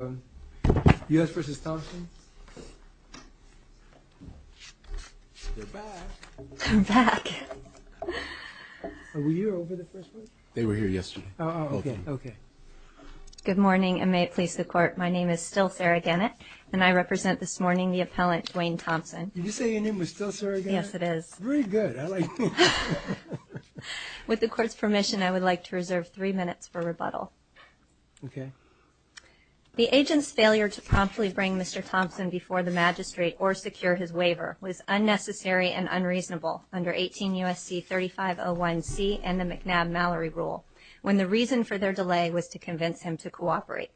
Good morning, and may it please the court, my name is still Sarah Gannett and I represent this morning the appellant Dwayne Thompson. Did you say your name was still Sarah Gannett? Yes it is. Very good. I like that. With the court's permission, I would like to reserve three minutes for rebuttal. Okay. The agent's failure to promptly bring Mr. Thompson before the magistrate or secure his waiver was unnecessary and unreasonable under 18 U.S.C. 3501C and the McNabb-Mallory rule, when the reason for their delay was to convince him to cooperate.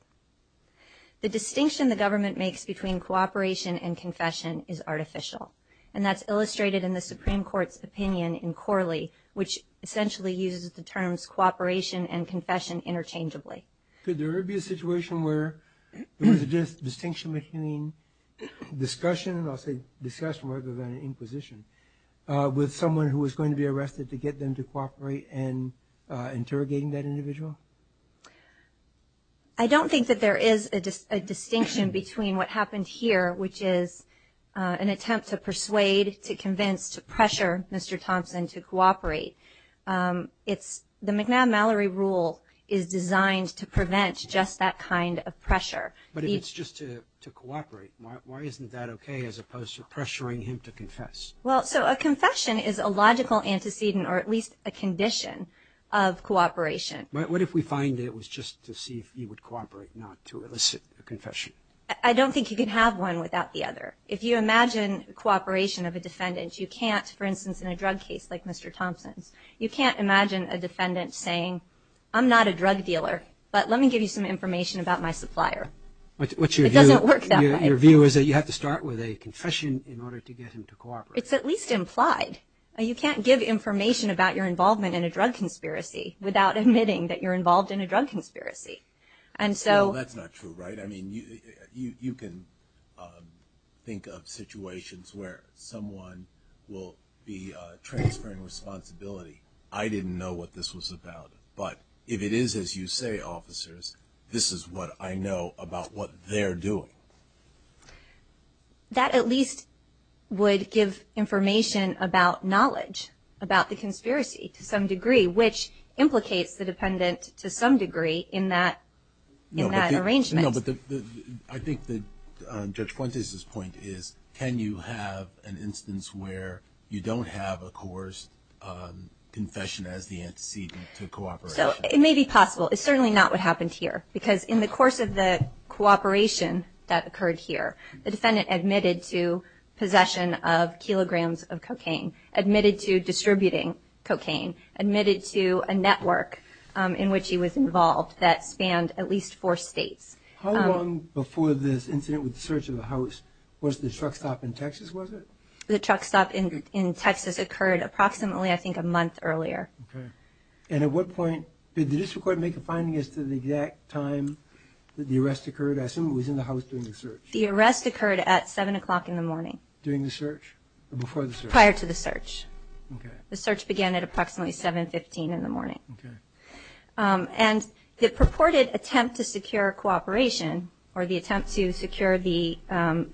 The distinction the government makes between cooperation and confession is artificial, and that's illustrated in the Supreme Court's opinion in Corley, which essentially uses the terms cooperation and confession interchangeably. Could there be a situation where there was a distinction between discussion, and I'll say discussion rather than inquisition, with someone who was going to be arrested to get them to cooperate and interrogating that individual? I don't think that there is a distinction between what happened here, which is an attempt to persuade, to convince, to pressure Mr. Thompson to cooperate. It's the McNabb-Mallory rule is designed to prevent just that kind of pressure. But if it's just to cooperate, why isn't that okay as opposed to pressuring him to confess? Well, so a confession is a logical antecedent or at least a condition of cooperation. What if we find it was just to see if he would cooperate, not to elicit a confession? I don't think you can have one without the other. If you imagine cooperation of a defendant, you can't, for instance, in a drug case like Mr. Thompson's, you can't imagine a defendant saying, I'm not a drug dealer, but let me give you some information about my supplier. What's your view? It doesn't work that way. Your view is that you have to start with a confession in order to get him to cooperate. It's at least implied. You can't give information about your involvement in a drug conspiracy without admitting that you're involved in a drug conspiracy. And so... Well, that's not true, right? I mean, you can think of situations where someone will be transferring responsibility. I didn't know what this was about, but if it is as you say, officers, this is what I know about what they're doing. That at least would give information about knowledge about the conspiracy to some degree, which implicates the dependent to some degree in that arrangement. No, but I think that Judge Fuentes' point is, can you have an instance where you don't have a coerced confession as the antecedent to cooperation? So, it may be possible. It's certainly not what happened here. Because in the course of the cooperation that occurred here, the defendant admitted to possession of kilograms of cocaine, admitted to distributing cocaine, admitted to a network in which he was involved that spanned at least four states. How long before this incident with the search of the house was the truck stop in Texas, was it? The truck stop in Texas occurred approximately, I think, a month earlier. Okay. And at what point did the district court make a finding as to the exact time that the arrest occurred? I assume it was in the house during the search. The arrest occurred at 7 o'clock in the morning. During the search? Or before the search? Prior to the search. Okay. The search began at approximately 7.15 in the morning. Okay. And the purported attempt to secure cooperation, or the attempt to secure the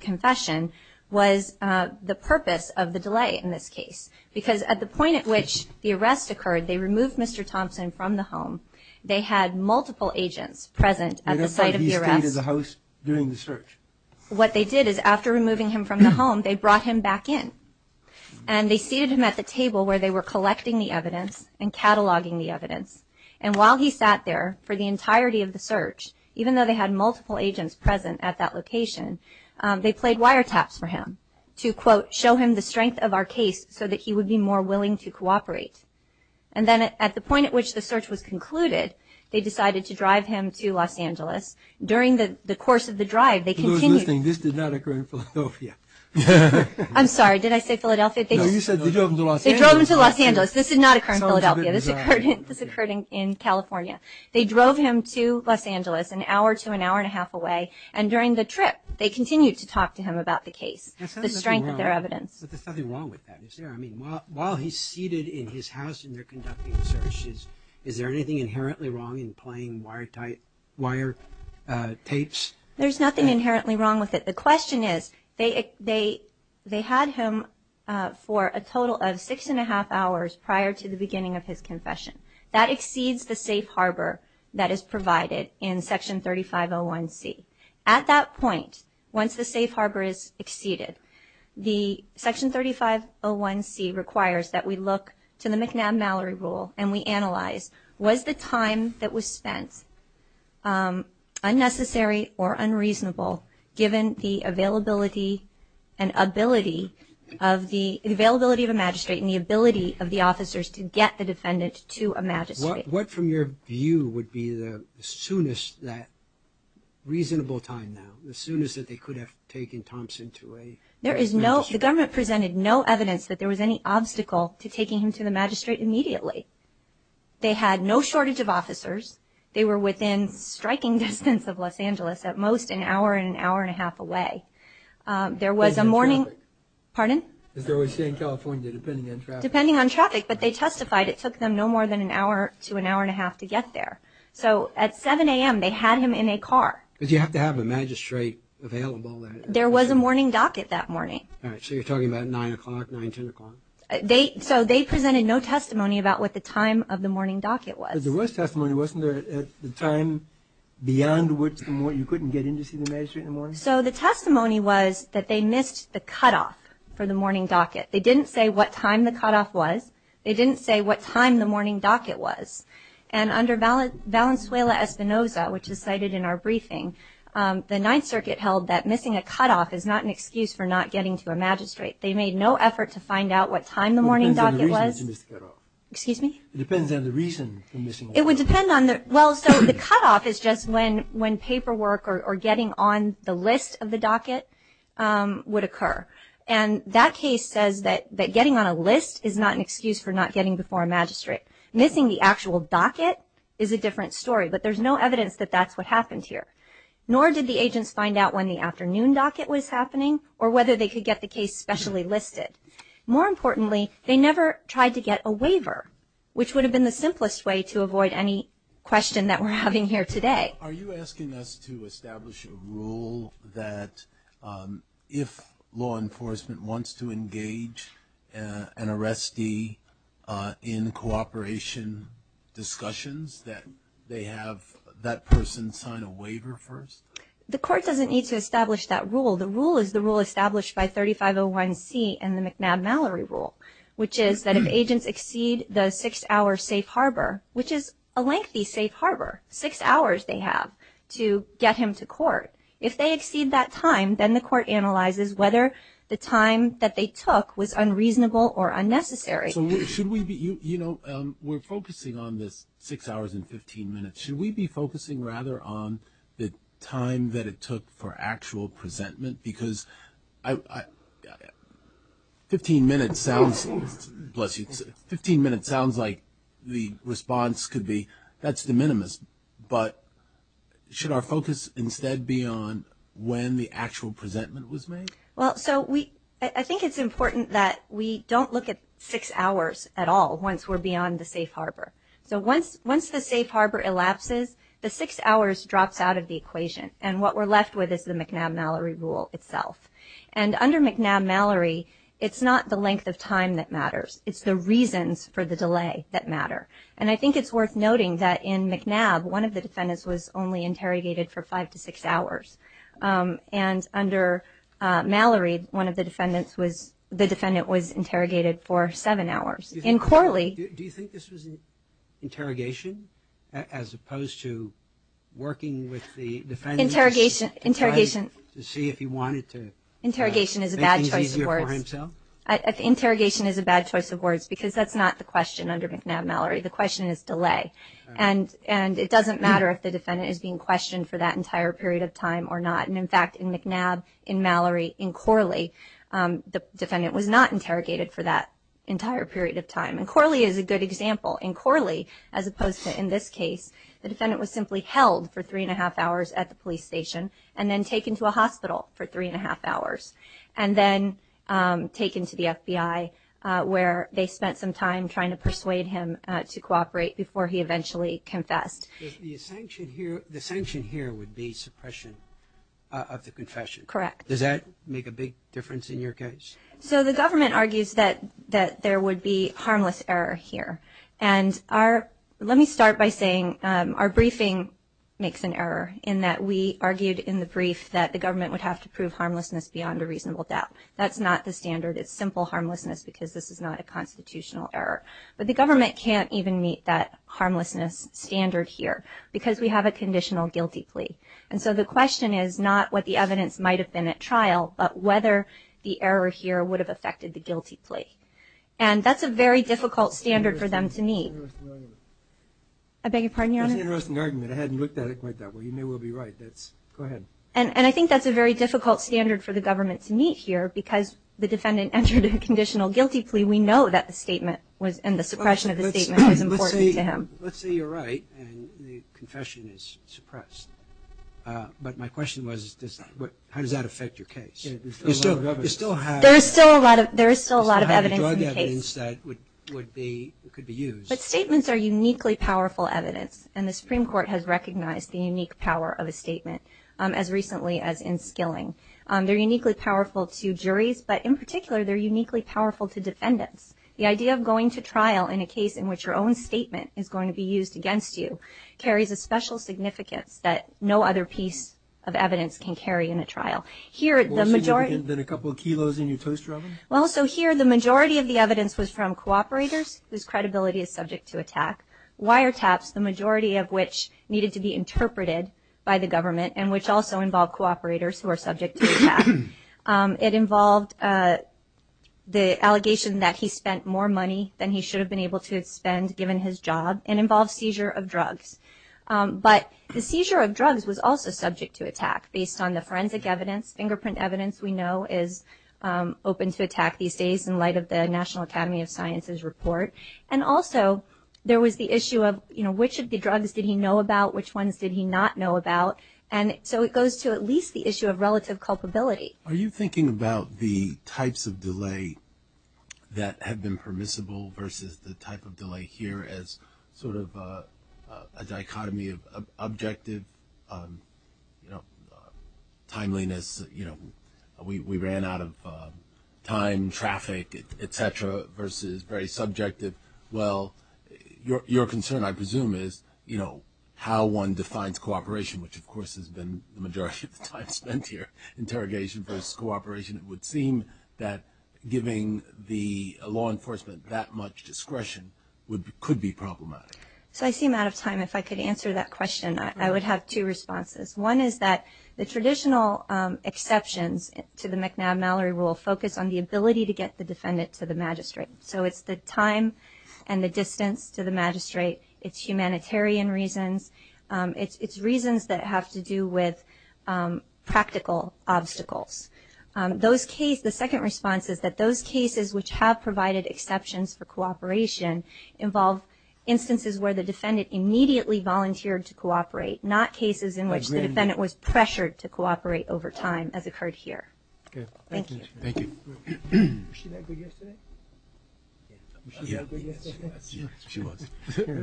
confession, was the purpose of the delay in this case. Because at the point at which the arrest occurred, they removed Mr. Thompson from the home. They had multiple agents present at the site of the arrest. And at what point did he stay at the house during the search? What they did is, after removing him from the home, they brought him back in. And they seated him at the table where they were collecting the evidence and cataloging the evidence. And while he sat there, for the entirety of the search, even though they had multiple agents present at that location, they played wiretaps for him to, quote, show him the strength of our case so that he would be more willing to cooperate. And then at the point at which the search was concluded, they decided to drive him to Los Angeles. During the course of the drive, they continued... I was listening. This did not occur in Philadelphia. I'm sorry. Did I say Philadelphia? No, you said they drove him to Los Angeles. They drove him to Los Angeles. This did not occur in Philadelphia. This occurred in California. They drove him to Los Angeles, an hour to an hour and a half away. And during the trip, they continued to talk to him about the case, the strength of their evidence. But there's nothing wrong with that, is there? I mean, while he's seated in his house and they're conducting searches, is there anything inherently wrong in playing wiretapes? There's nothing inherently wrong with it. The question is, they had him for a total of six and a half hours prior to the beginning of his confession. That exceeds the safe harbor that is provided in Section 3501C. At that point, once the safe harbor is exceeded, the Section 3501C requires that we look to the McNabb-Mallory rule and we analyze, was the time that was spent unnecessary or unreasonable given the availability of a magistrate and the ability of the officers to get the defendant to a magistrate? What from your view would be the soonest, that reasonable time now, the soonest that they could have taken Thompson to a magistrate? The government presented no evidence that there was any obstacle to taking him to the magistrate immediately. They had no shortage of officers. They were within striking distance of Los Angeles, at most an hour and an hour and a half away. There was a morning... Depends on traffic. Pardon? Is there a way to stay in California depending on traffic? Depending on traffic, but they testified it took them no more than an hour to an hour and a half to get there. So at 7 a.m., they had him in a car. But you have to have a magistrate available. There was a morning docket that morning. All right, so you're talking about 9 o'clock, 9, 10 o'clock? So they presented no testimony about what the time of the morning docket was. But there was testimony. Wasn't there a time beyond which you couldn't get in to see the magistrate in the morning? So the testimony was that they missed the cutoff for the morning docket. They didn't say what time the cutoff was. They didn't say what time the morning docket was. And under Valenzuela-Espinoza, which is cited in our briefing, the Ninth Circuit held that missing a cutoff is not an excuse for not getting to a magistrate. They made no effort to find out what time the morning docket was. It depends on the reason you missed the cutoff. Excuse me? It would depend on the, well, so the cutoff is just when paperwork or getting on the list of the docket would occur. And that case says that getting on a list is not an excuse for not getting before a magistrate. Missing the actual docket is a different story. But there's no evidence that that's what happened here. Nor did the agents find out when the afternoon docket was happening or whether they could get the case specially listed. More importantly, they never tried to get a waiver, which would have been the simplest way to avoid any question that we're having here today. Are you asking us to establish a rule that if law enforcement wants to engage an arrestee in cooperation discussions that they have that person sign a waiver first? The court doesn't need to establish that rule. The rule is the rule established by 3501C in the McNabb-Mallory Rule, which is that if agents exceed the six-hour safe harbor, which is a lengthy safe harbor, six hours they have to get him to court. If they exceed that time, then the court analyzes whether the time that they took was unreasonable or unnecessary. So should we be, you know, we're focusing on this six hours and 15 minutes. Should we be focusing rather on the time that it took for actual presentment? Because 15 minutes sounds like the response could be that's de minimis, but should our focus instead be on when the actual presentment was made? Well, so we, I think it's important that we don't look at six hours at all once we're beyond the safe harbor. So once the safe harbor elapses, the six hours drops out of the equation and what we're left with is the McNabb-Mallory Rule itself. And under McNabb-Mallory, it's not the length of time that matters. It's the reasons for the delay that matter. And I think it's worth noting that in McNabb, one of the defendants was only interrogated for five to six hours. And under Mallory, one of the defendants was, the defendant was interrogated for seven hours. In Corley... Do you think this was interrogation as opposed to working with the defendants? Interrogation, interrogation... To see if he wanted to... Interrogation is a bad choice of words. Make things easier for himself? Interrogation is a bad choice of words because that's not the question under McNabb-Mallory. The question is delay. And it doesn't matter if the defendant is being questioned for that entire period of time or not. And in fact, in McNabb, in Mallory, in Corley, the defendant was not interrogated for that entire period of time. And Corley is a good example. In Corley, as opposed to in this case, the defendant was simply held for three and a half hours at a police station and then taken to a hospital for three and a half hours. And then taken to the FBI where they spent some time trying to persuade him to cooperate before he eventually confessed. The sanction here would be suppression of the confession. Correct. Does that make a big difference in your case? So the government argues that there would be harmless error here. And our, let me start by saying our briefing makes an error in that we argued in the brief that the government would have to prove harmlessness beyond a reasonable doubt. That's not the standard. It's simple harmlessness because this is not a constitutional error. But the government can't even meet that harmlessness standard here because we have a conditional guilty plea. And so the question is not what the evidence might have been at trial, but whether the error here would have affected the guilty plea. And that's a very difficult standard for them to meet. That's an interesting argument. I beg your pardon, Your Honor? That's an interesting argument. I hadn't looked at it quite that way. You may well be right. That's, go ahead. And I think that's a very difficult standard for the government to meet here because the defendant entered a conditional guilty plea. We know that the statement was, and the suppression of the statement was important to him. Let's say you're right and the confession is suppressed. But my question was, how does that affect your case? There's still a lot of evidence. There's a lot of evidence that could be used. But statements are uniquely powerful evidence. And the Supreme Court has recognized the unique power of a statement, as recently as in Skilling. They're uniquely powerful to juries, but in particular, they're uniquely powerful to defendants. The idea of going to trial in a case in which your own statement is going to be used against you carries a special significance that no other piece of evidence can carry in a trial. Here the majority... Well, so you can put a couple of kilos in your toaster oven? Well, so here the majority of the evidence was from cooperators whose credibility is subject to attack. Wiretaps, the majority of which needed to be interpreted by the government, and which also involved cooperators who are subject to attack. It involved the allegation that he spent more money than he should have been able to spend given his job. It involved seizure of drugs. But the seizure of drugs was also subject to attack, based on the forensic evidence, fingerprint evidence we know is open to attack these days in light of the National Academy of Sciences report. And also, there was the issue of which of the drugs did he know about, which ones did he not know about. And so it goes to at least the issue of relative culpability. Are you thinking about the types of delay that have been permissible versus the type of delay here as sort of a dichotomy of objective, you know, timeliness, you know, we ran out of time, traffic, et cetera, versus very subjective? Well, your concern, I presume, is, you know, how one defines cooperation, which of course has been the majority of the time spent here, interrogation versus cooperation. It would seem that giving the law enforcement that much discretion could be problematic. So I seem out of time. If I could answer that question, I would have two responses. One is that the traditional exceptions to the McNabb-Mallory rule focus on the ability to get the defendant to the magistrate. So it's the time and the distance to the magistrate. It's humanitarian reasons. It's reasons that have to do with practical obstacles. Those cases, the second response is that those cases which have provided exceptions for cooperation involve instances where the defendant immediately volunteered to cooperate, not cases in which the defendant was pressured to cooperate over time as occurred here. Thank you. Thank you. Was she that good yesterday? Yeah. She was. Okay.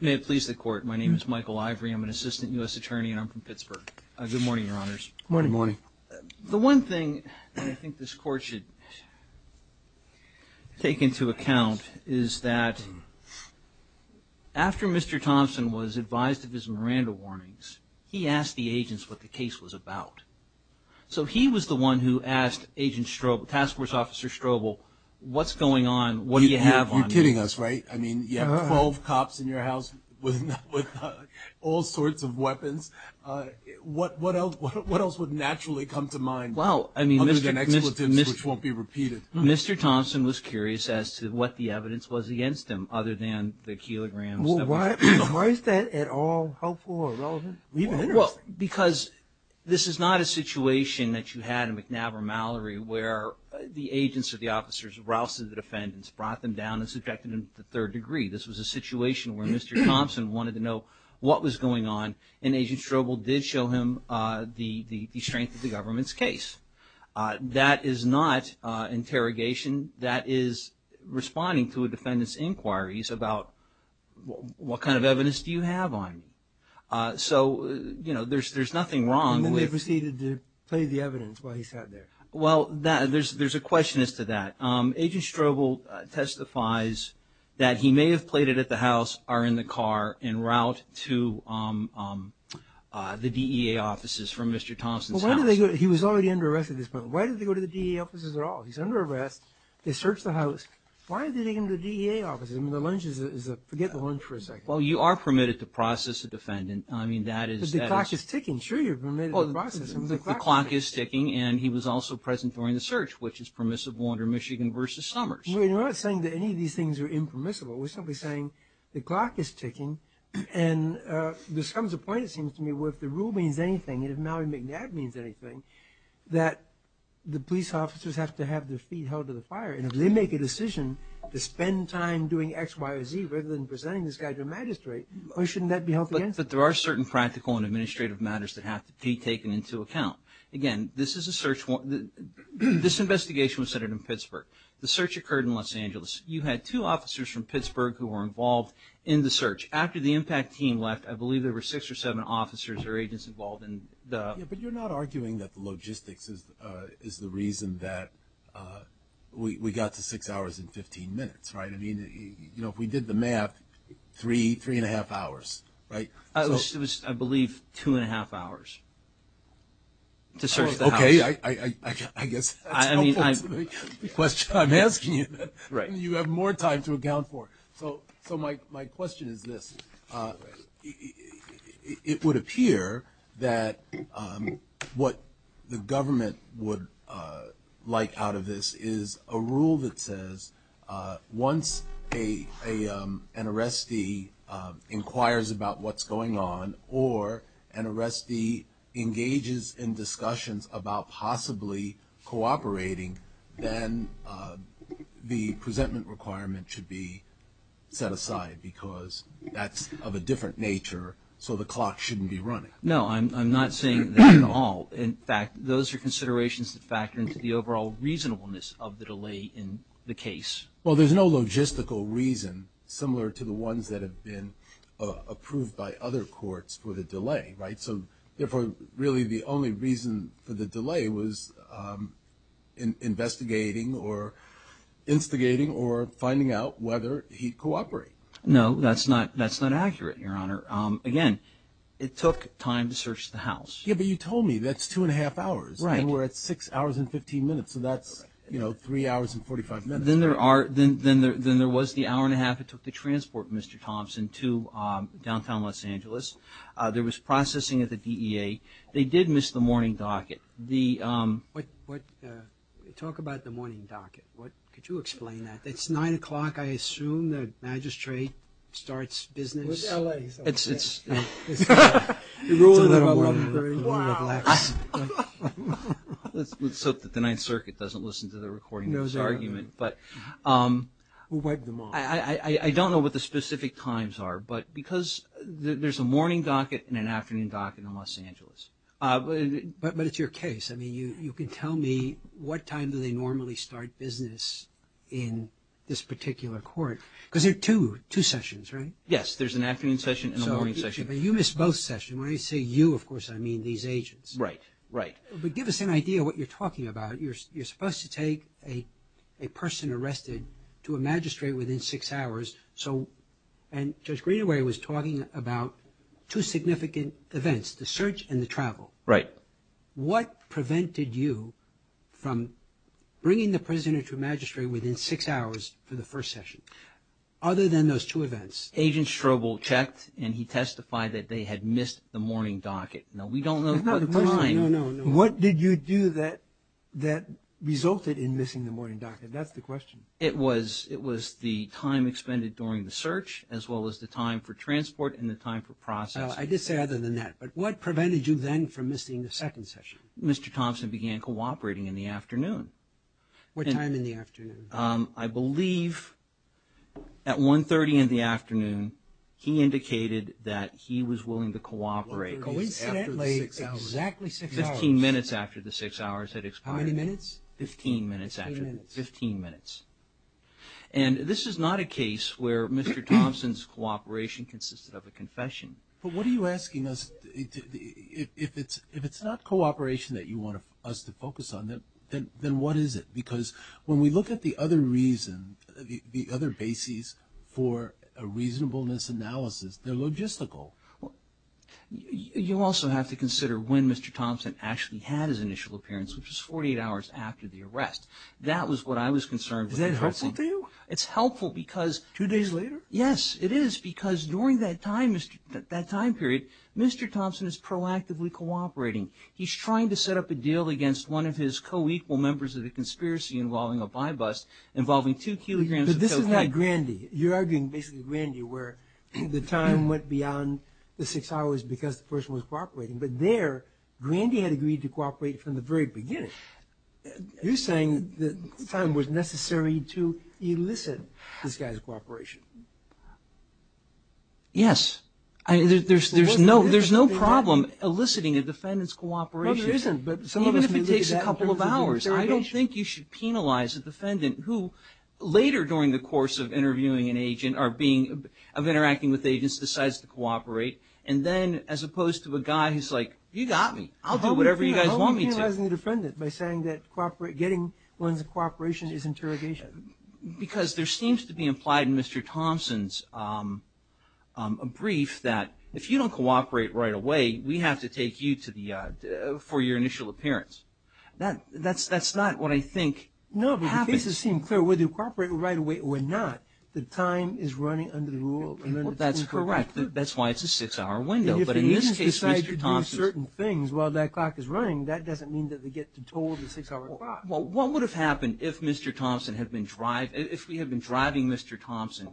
May it please the court, my name is Michael Ivory. I'm an assistant U.S. attorney and I'm from Pittsburgh. Good morning, your honors. Good morning. The one thing that I think this court should take into account is that after Mr. Thompson was advised of his Miranda warnings, he asked the agents what the case was about. So he was the one who asked Agent Strobel, Task Force Officer Strobel, what's going on? What do you have on me? You're kidding us, right? I mean, you have 12 cops in your house with all sorts of weapons, what else would naturally come to mind? Well, I mean, Mr. Thompson was curious as to what the evidence was against him other than the kilograms. Why is that at all helpful or relevant? Because this is not a situation that you had in McNab or Mallory where the agents or the This was a situation where Mr. Thompson wanted to know what was going on and Agent Strobel did show him the strength of the government's case. That is not interrogation. That is responding to a defendant's inquiries about what kind of evidence do you have on me? So there's nothing wrong with- And then they proceeded to play the evidence while he sat there. Well, there's a question as to that. Agent Strobel testifies that he may have played it at the house or in the car en route to the DEA offices from Mr. Thompson's house. He was already under arrest at this point. Why did they go to the DEA offices at all? He's under arrest. They searched the house. Why did they go to the DEA offices? I mean, the lunge is a- forget the lunge for a second. Well, you are permitted to process a defendant. I mean, that is- But the clock is ticking. Sure, you're permitted to process him. The clock is ticking and he was also present during the search, which is permissible under Michigan v. Summers. Well, you're not saying that any of these things are impermissible. We're simply saying the clock is ticking and there comes a point, it seems to me, where if the rule means anything and if Mallory McNabb means anything, that the police officers have to have their feet held to the fire. And if they make a decision to spend time doing X, Y, or Z rather than presenting this guy to a magistrate, why shouldn't that be held against them? But there are certain practical and administrative matters that have to be taken into account. Again, this is a search warrant- this investigation was centered in Pittsburgh. The search occurred in Los Angeles. You had two officers from Pittsburgh who were involved in the search. After the impact team left, I believe there were six or seven officers or agents involved in the- Yeah, but you're not arguing that the logistics is the reason that we got to six hours and 15 minutes, right? I mean, you know, if we did the math, three, three and a half hours, right? It was, I believe, two and a half hours to search the house. Okay, I guess that's the question I'm asking you. You have more time to account for. So my question is this. It would appear that what the government would like out of this is a rule that says once an arrestee inquires about what's going on or an arrestee engages in discussions about possibly cooperating, then the presentment requirement should be set aside because that's of a different nature, so the clock shouldn't be running. No, I'm not saying that at all. In fact, those are considerations that factor into the overall reasonableness of the delay in the case. Well, there's no logistical reason similar to the ones that have been approved by other courts for the delay, right? So therefore, really the only reason for the delay was investigating or instigating or finding out whether he'd cooperate. No, that's not accurate, Your Honor. Again, it took time to search the house. Yeah, but you told me that's two and a half hours. Right. And we're at six hours and 15 minutes, so that's, you know, three hours and 45 minutes. Then there was the hour and a half it took to transport Mr. Thompson to downtown Los Angeles. There was processing at the DEA. They did miss the morning docket. Talk about the morning docket. Could you explain that? It's nine o'clock. I assume the magistrate starts business. It's LA. It's a little early. Wow. Let's hope that the Ninth Circuit doesn't listen to the recording of this argument, but I don't know what the specific times are, but because there's a morning docket and an afternoon docket in Los Angeles. But it's your case. I mean, you can tell me what time do they normally start business in this particular court because there are two sessions, right? Yes, there's an afternoon session and a morning session. You missed both sessions. When I say you, of course, I mean these agents. Right, right. But give us an idea what you're talking about. You're supposed to take a person arrested to a magistrate within six hours. And Judge Greenaway was talking about two significant events, the search and the travel. What prevented you from bringing the prisoner to a magistrate within six hours for the first session other than those two events? Agent Strobel checked and he testified that they had missed the morning docket. We don't know the time. What did you do that resulted in missing the morning docket? That's the question. It was the time expended during the search as well as the time for transport and the time for process. I did say other than that, but what prevented you then from missing the second session? Mr. Thompson began cooperating in the afternoon. What time in the afternoon? I believe at 1.30 in the afternoon, he indicated that he was willing to cooperate. Coincidentally, exactly six hours. Fifteen minutes after the six hours had expired. How many minutes? Fifteen minutes. Fifteen minutes. And this is not a case where Mr. Thompson's cooperation consisted of a confession. But what are you asking us? If it's not cooperation that you want us to focus on, then what is it? Because when we look at the other reasons, the other bases for a reasonableness analysis, they're logistical. Well, you also have to consider when Mr. Thompson actually had his initial appearance, which was 48 hours after the arrest. That was what I was concerned with addressing. Is that helpful to you? It's helpful because... Two days later? Yes, it is. Because during that time period, Mr. Thompson is proactively cooperating. He's trying to set up a deal against one of his co-equal members of the conspiracy involving a by-bust involving two kilograms of cocaine. But this is like Grandy. You're arguing basically Grandy, where the time went beyond the six hours because the person was cooperating. But there, Grandy had agreed to cooperate from the very beginning. You're saying that time was necessary to elicit this guy's cooperation. Yes. There's no problem eliciting a defendant's cooperation. Well, there isn't, but some of us may look at that... Even if it takes a couple of hours. I don't think you should penalize a defendant who, later during the course of interviewing an agent, of interacting with agents, decides to cooperate. And then, as opposed to a guy who's like, you got me, I'll do whatever you guys want me to. How are you penalizing the defendant by saying that getting one's cooperation is interrogation? Because there seems to be implied in Mr. Thompson's brief that if you don't cooperate right away, we have to take you for your initial appearance. That's not what I think happens. No, but the cases seem clear whether you cooperate right away or not. The time is running under the rule... That's correct. That's why it's a six-hour window. But in this case, Mr. Thompson... And if the agents decide to do certain things while that clock is running, that doesn't mean that they get told the six-hour clock. Well, what would have happened if we had been driving Mr. Thompson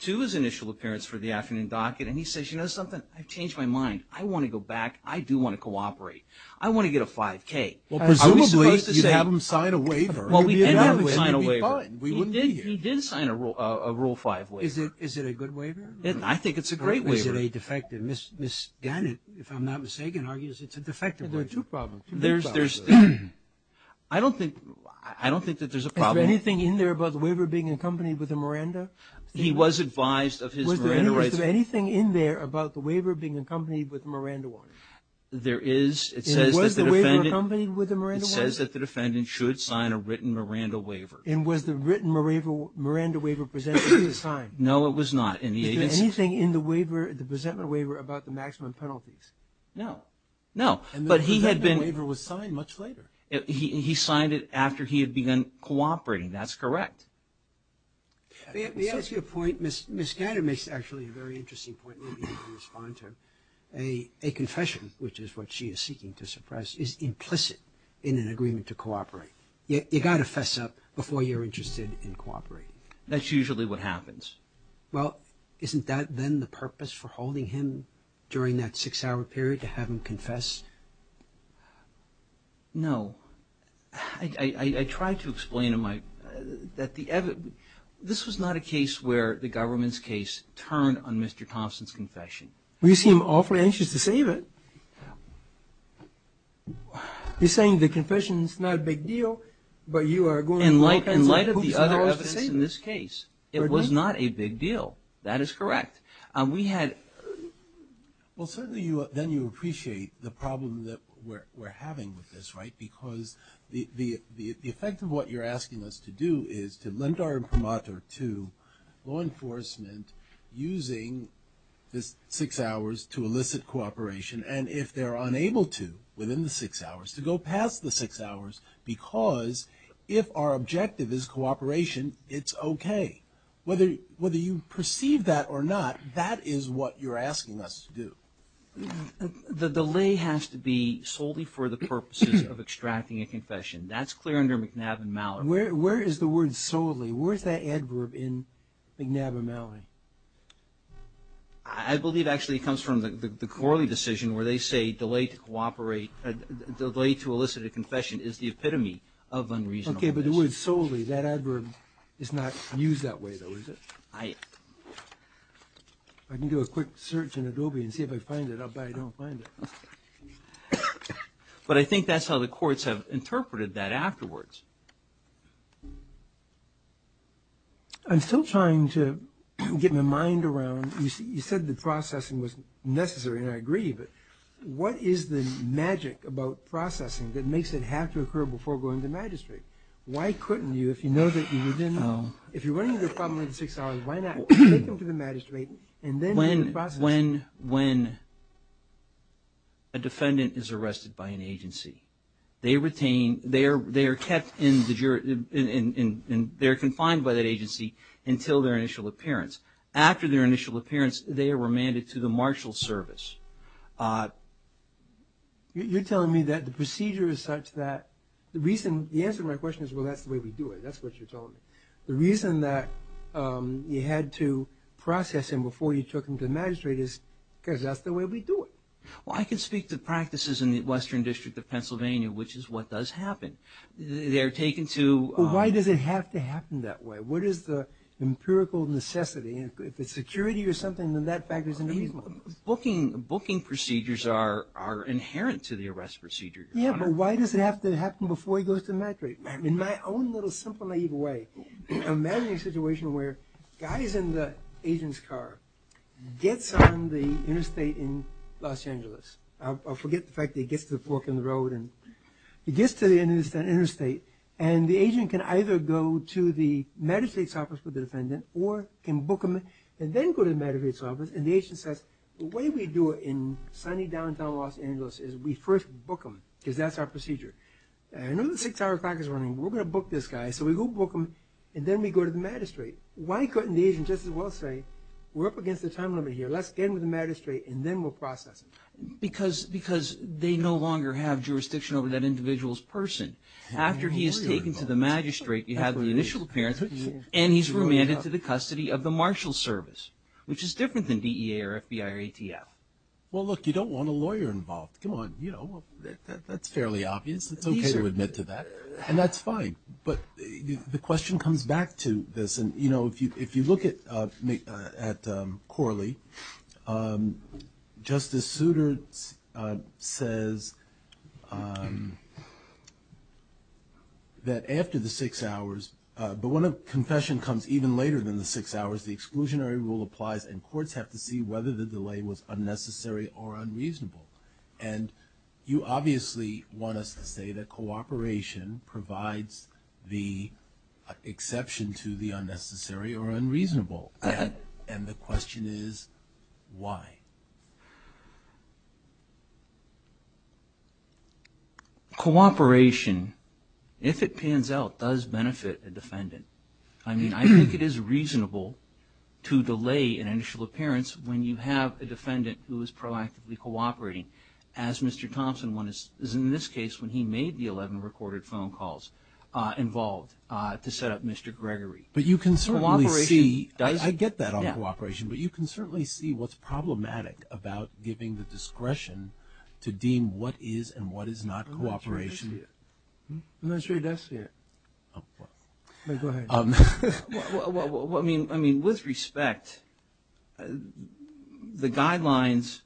to his initial appearance for the afternoon docket, and he says, you know something, I've changed my mind. I want to go back. I do want to cooperate. I want to get a 5K. I was supposed to say... Well, presumably, you'd have him sign a waiver. Well, we'd have him sign a waiver. We wouldn't be here. He did sign a Rule 5 waiver. Is it a good waiver? I think it's a great waiver. Or is it a defective? Ms. Gannett, if I'm not mistaken, argues it's a defective waiver. There are two problems. There's... I don't think that there's a problem. Is there anything in there about the waiver being accompanied with a Miranda? He was advised of his Miranda rights... Was there anything in there about the waiver being accompanied with a Miranda warrant? There is. It says that the defendant... And was the waiver accompanied with a Miranda warrant? It says that the defendant should sign a written Miranda waiver. And was the written Miranda waiver present when he was signed? No, it was not. And the agency... Is there anything in the waiver, the presentment waiver, about the maximum penalties? No. No. And the presentment waiver was signed much later. He signed it after he had begun cooperating. That's correct. Let me ask you a point. Ms. Gannett makes actually a very interesting point. A confession, which is what she is seeking to suppress, is implicit in an agreement to cooperate. You've got to fess up before you're interested in cooperating. That's usually what happens. Well, isn't that then the purpose for holding him during that six-hour period, to have him confess? No. I tried to explain in my... This was not a case where the government's case turned on Mr. Thompson's confession. Well, you seem awfully anxious to save it. You're saying the confession is not a big deal, but you are going... In light of the other evidence in this case, it was not a big deal. That is correct. We had... Well, certainly then you appreciate the problem that we're having with this, right? Because the effect of what you're asking us to do is to lend our imprimatur to law enforcement using this six hours to elicit cooperation. And if they're unable to, within the six hours, to go past the six hours, because if our objective is cooperation, it's okay. Whether you perceive that or not, that is what you're asking us to do. The delay has to be solely for the purposes of extracting a confession. That's clear under McNab and Mallory. Where is the word solely? Where is that adverb in McNab and Mallory? I believe actually it comes from the Corley decision where they say delay to cooperate, delay to elicit a confession is the epitome of unreasonableness. Okay, but the word solely, that adverb is not used that way though, is it? I... I can do a quick search in Adobe and see if I find it. I'll bet I don't find it. But I think that's how the courts have interpreted that afterwards. I'm still trying to get my mind around... You said the processing was necessary, and I agree, but what is the magic about processing that makes it have to occur before going to magistrate? Why couldn't you, if you know that you're within... Why not take them to the magistrate and then... When a defendant is arrested by an agency, they retain, they are kept in... They're confined by that agency until their initial appearance. After their initial appearance, they are remanded to the marshal service. You're telling me that the procedure is such that... The answer to my question is, well, that's the way we do it. That's what you're telling me. The reason that you had to process him before you took him to the magistrate is because that's the way we do it. Well, I can speak to practices in the Western District of Pennsylvania, which is what does happen. They're taken to... Well, why does it have to happen that way? What is the empirical necessity? If it's security or something, then that factors into... Booking procedures are inherent to the arrest procedure. Yeah, but why does it have to happen before he goes to the magistrate? In my own little, simple, naive way, imagine a situation where a guy is in the agent's car, gets on the interstate in Los Angeles. I forget the fact that he gets to the fork in the road and... He gets to the interstate, and the agent can either go to the magistrate's office with the defendant, or can book him and then go to the magistrate's office, and the agent says, the way we do it in sunny downtown Los Angeles is we first book him, because that's our procedure. I know the six-hour clock is running. We're going to book this guy, so we go book him, and then we go to the magistrate. Why couldn't the agent just as well say, we're up against the time limit here, let's get him to the magistrate, and then we'll process him? Because they no longer have jurisdiction over that individual's person. After he is taken to the magistrate, you have the initial appearance, and he's remanded to the custody of the Marshal Service, which is different than DEA or FBI or ATF. Well, look, you don't want a lawyer involved. That's fairly obvious. It's okay to admit to that, and that's fine. But the question comes back to this. If you look at Corley, Justice Souter says that after the six hours, but when a confession comes even later than the six hours, the exclusionary rule applies, and courts have to see whether the delay was unnecessary or unreasonable. And you obviously want us to say that cooperation provides the exception to the unnecessary or unreasonable rule. And the question is, why? Cooperation, if it pans out, does benefit a defendant. I mean, I think it is reasonable to delay an initial appearance when you have a defendant who is proactively cooperating, as Mr. Thompson is in this case when he made the 11 recorded phone calls involved to set up Mr. Gregory. But you can certainly see, I get that on cooperation, but you can certainly see what's problematic about giving the discretion to deem what is and what is not cooperation. I'm not sure he does see it. Go ahead. Well, I mean, with respect, the guidelines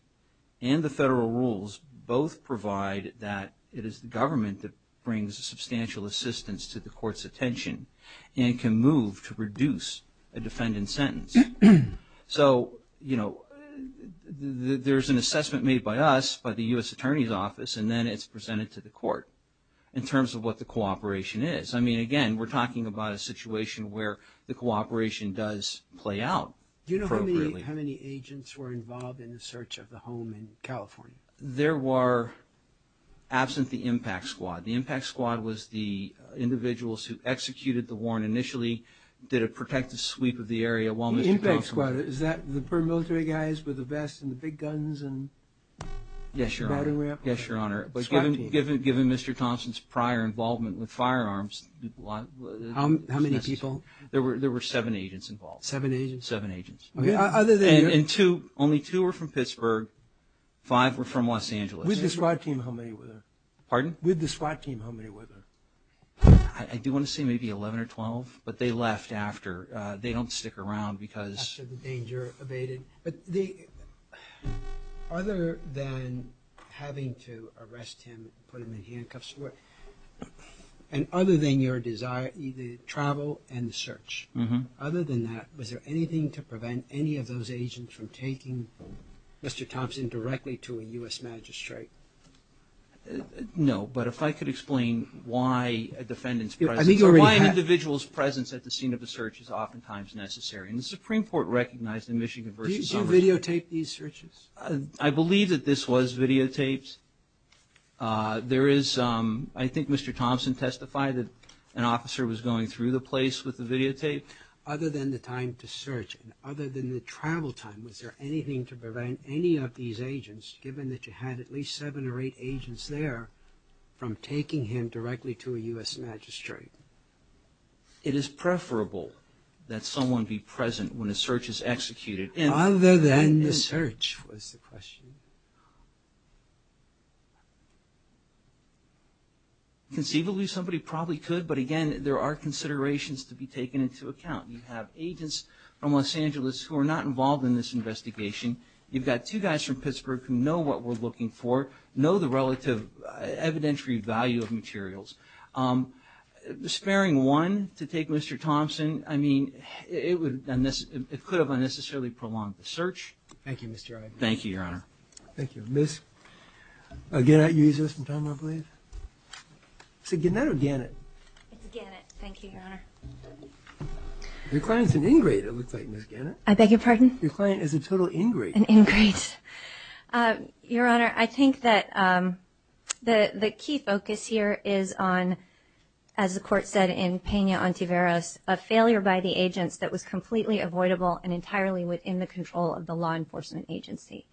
and the federal rules both provide that it is the government that brings substantial assistance to the court's attention and can move to reduce a defendant's sentence. So, you know, there's an assessment made by us, by the U.S. Attorney's Office, and then it's presented to the court in terms of what the cooperation is. I mean, again, we're talking about a situation where the cooperation does play out appropriately. Do you know how many agents were involved in the search of the home in California? There were, absent the impact squad. The impact squad was the individuals who executed the warrant initially, did a protective sweep of the area while Mr. Thompson... The impact squad, is that the paramilitary guys with the vests and the big guns and... Yes, Your Honor. Yes, Your Honor. But given Mr. Thompson's prior involvement with firearms, How many people? There were seven agents involved. Seven agents? Seven agents. And two, only two were from Pittsburgh, five were from Los Angeles. With the SWAT team, how many were there? Pardon? With the SWAT team, how many were there? I do want to say maybe 11 or 12, but they left after. They don't stick around because... After the danger evaded. But other than having to arrest him, put him in handcuffs, and other than your desire, the travel and the search, other than that, was there anything to prevent any of those agents from taking Mr. Thompson directly to a U.S. magistrate? No, but if I could explain why a defendant's presence... I think you already have. Why an individual's presence at the scene of the search is oftentimes necessary. And the Supreme Court recognized in Michigan v. Congress... Do you videotape these searches? I believe that this was videotaped. There is... I think Mr. Thompson testified that an officer was going through the place with the videotape. Other than the time to search and other than the travel time, was there anything to prevent any of these agents, given that you had at least seven or eight agents there, from taking him directly to a U.S. magistrate? It is preferable that someone be present when a search is executed. Other than the search, was the question. Conceivably, somebody probably could, but again, there are considerations to be taken into account. You have agents from Los Angeles who are not involved in this investigation. You've got two guys from Pittsburgh who know what we're looking for, know the relative evidentiary value of materials. Sparing one to take Mr. Thompson, I mean, it could have unnecessarily prolonged the search. Thank you, Mr. Wright. Thank you, Your Honor. Thank you. Ms. Gannett, I believe. Is it Gannett or Gannett? It's Gannett, thank you, Your Honor. Your client's an ingrate, it looks like, Ms. Gannett. I beg your pardon? Your client is a total ingrate. An ingrate. Your Honor, I think that the key focus here is on, as the court said in Pena-Ontiveros, a failure by the agents that was completely avoidable and entirely within the control of the law enforcement agency.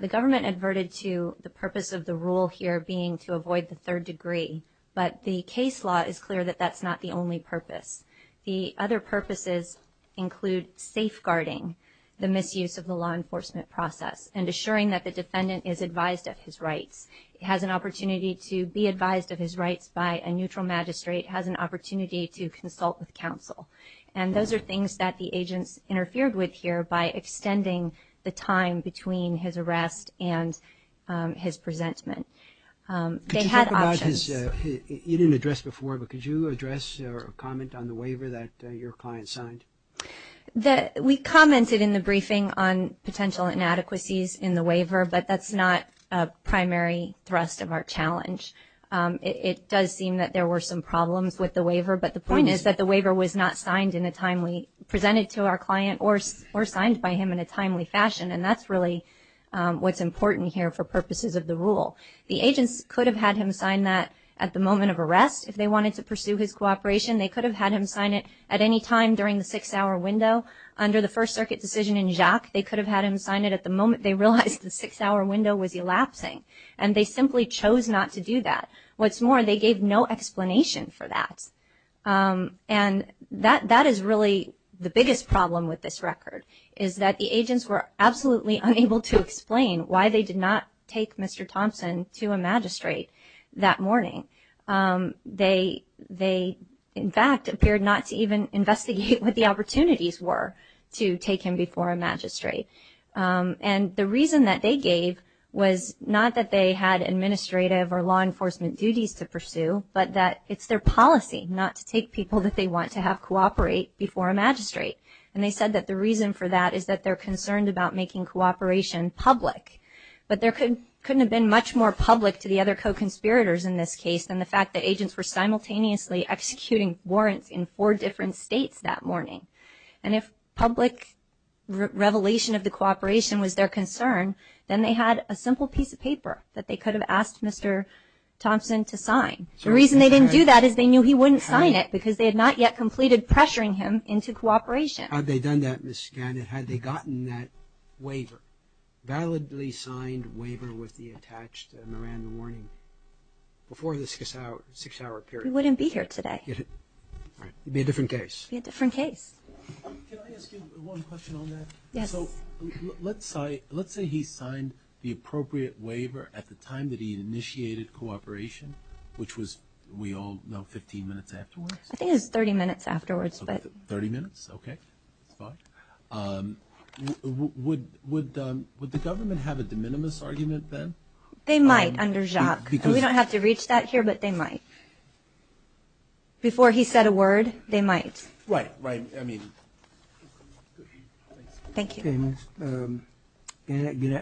The government adverted to the purpose of the rule here being to avoid the third degree, but the case law is clear that that's not the only purpose. The other purposes include safeguarding the misuse of the law enforcement process and assuring that the defendant is advised of his rights, has an opportunity to be advised of his rights by a neutral magistrate, has an opportunity to consult with counsel. And those are things that the agents interfered with here by extending the time between his arrest and his presentment. They had options. You didn't address before, but could you address or comment on the waiver that your client signed? We commented in the briefing on potential inadequacies in the waiver, but that's not a primary thrust of our challenge. It does seem that there were some problems with the waiver, but the point is that the waiver was not presented to our client or signed by him in a timely fashion. And that's really what's important here for purposes of the rule. The agents could have had him sign that at the moment of arrest if they wanted to pursue his cooperation. They could have had him sign it at any time during the six-hour window. Under the First Circuit decision in Jacques, they could have had him sign it at the moment they realized the six-hour window was elapsing. And they simply chose not to do that. What's more, they gave no explanation for that. And that is really the biggest problem with this record, is that the agents were absolutely unable to explain why they did not take Mr. Thompson to a magistrate that morning. They, in fact, appeared not to even investigate what the opportunities were to take him before a magistrate. And the reason that they gave was not that they had administrative or law enforcement duties to pursue, but that it's their policy not to take people that they want to have cooperate before a magistrate. And they said that the reason for that is that they're concerned about making cooperation public. But there couldn't have been much more public to the other co-conspirators in this case than the fact that agents were simultaneously executing warrants in four different states that morning. And if public revelation of the cooperation was their concern, then they had a simple piece of paper that they could have asked Mr. Thompson to sign. The reason they didn't do that is they knew he wouldn't sign it, because they had not yet completed pressuring him into cooperation. Had they done that, Ms. Scanlon, had they gotten that waiver, validly signed waiver with the attached Miranda warning, before the six-hour period? He wouldn't be here today. It would be a different case. It would be a different case. Can I ask you one question on that? Yes. Let's say he signed the appropriate waiver at the time that he initiated cooperation, which was, we all know, 15 minutes afterwards. I think it was 30 minutes afterwards. 30 minutes? Okay. Would the government have a de minimis argument then? They might, under Jacques. We don't have to reach that here, but they might. Before he said a word, they might. Right, right. Thank you. Thank you.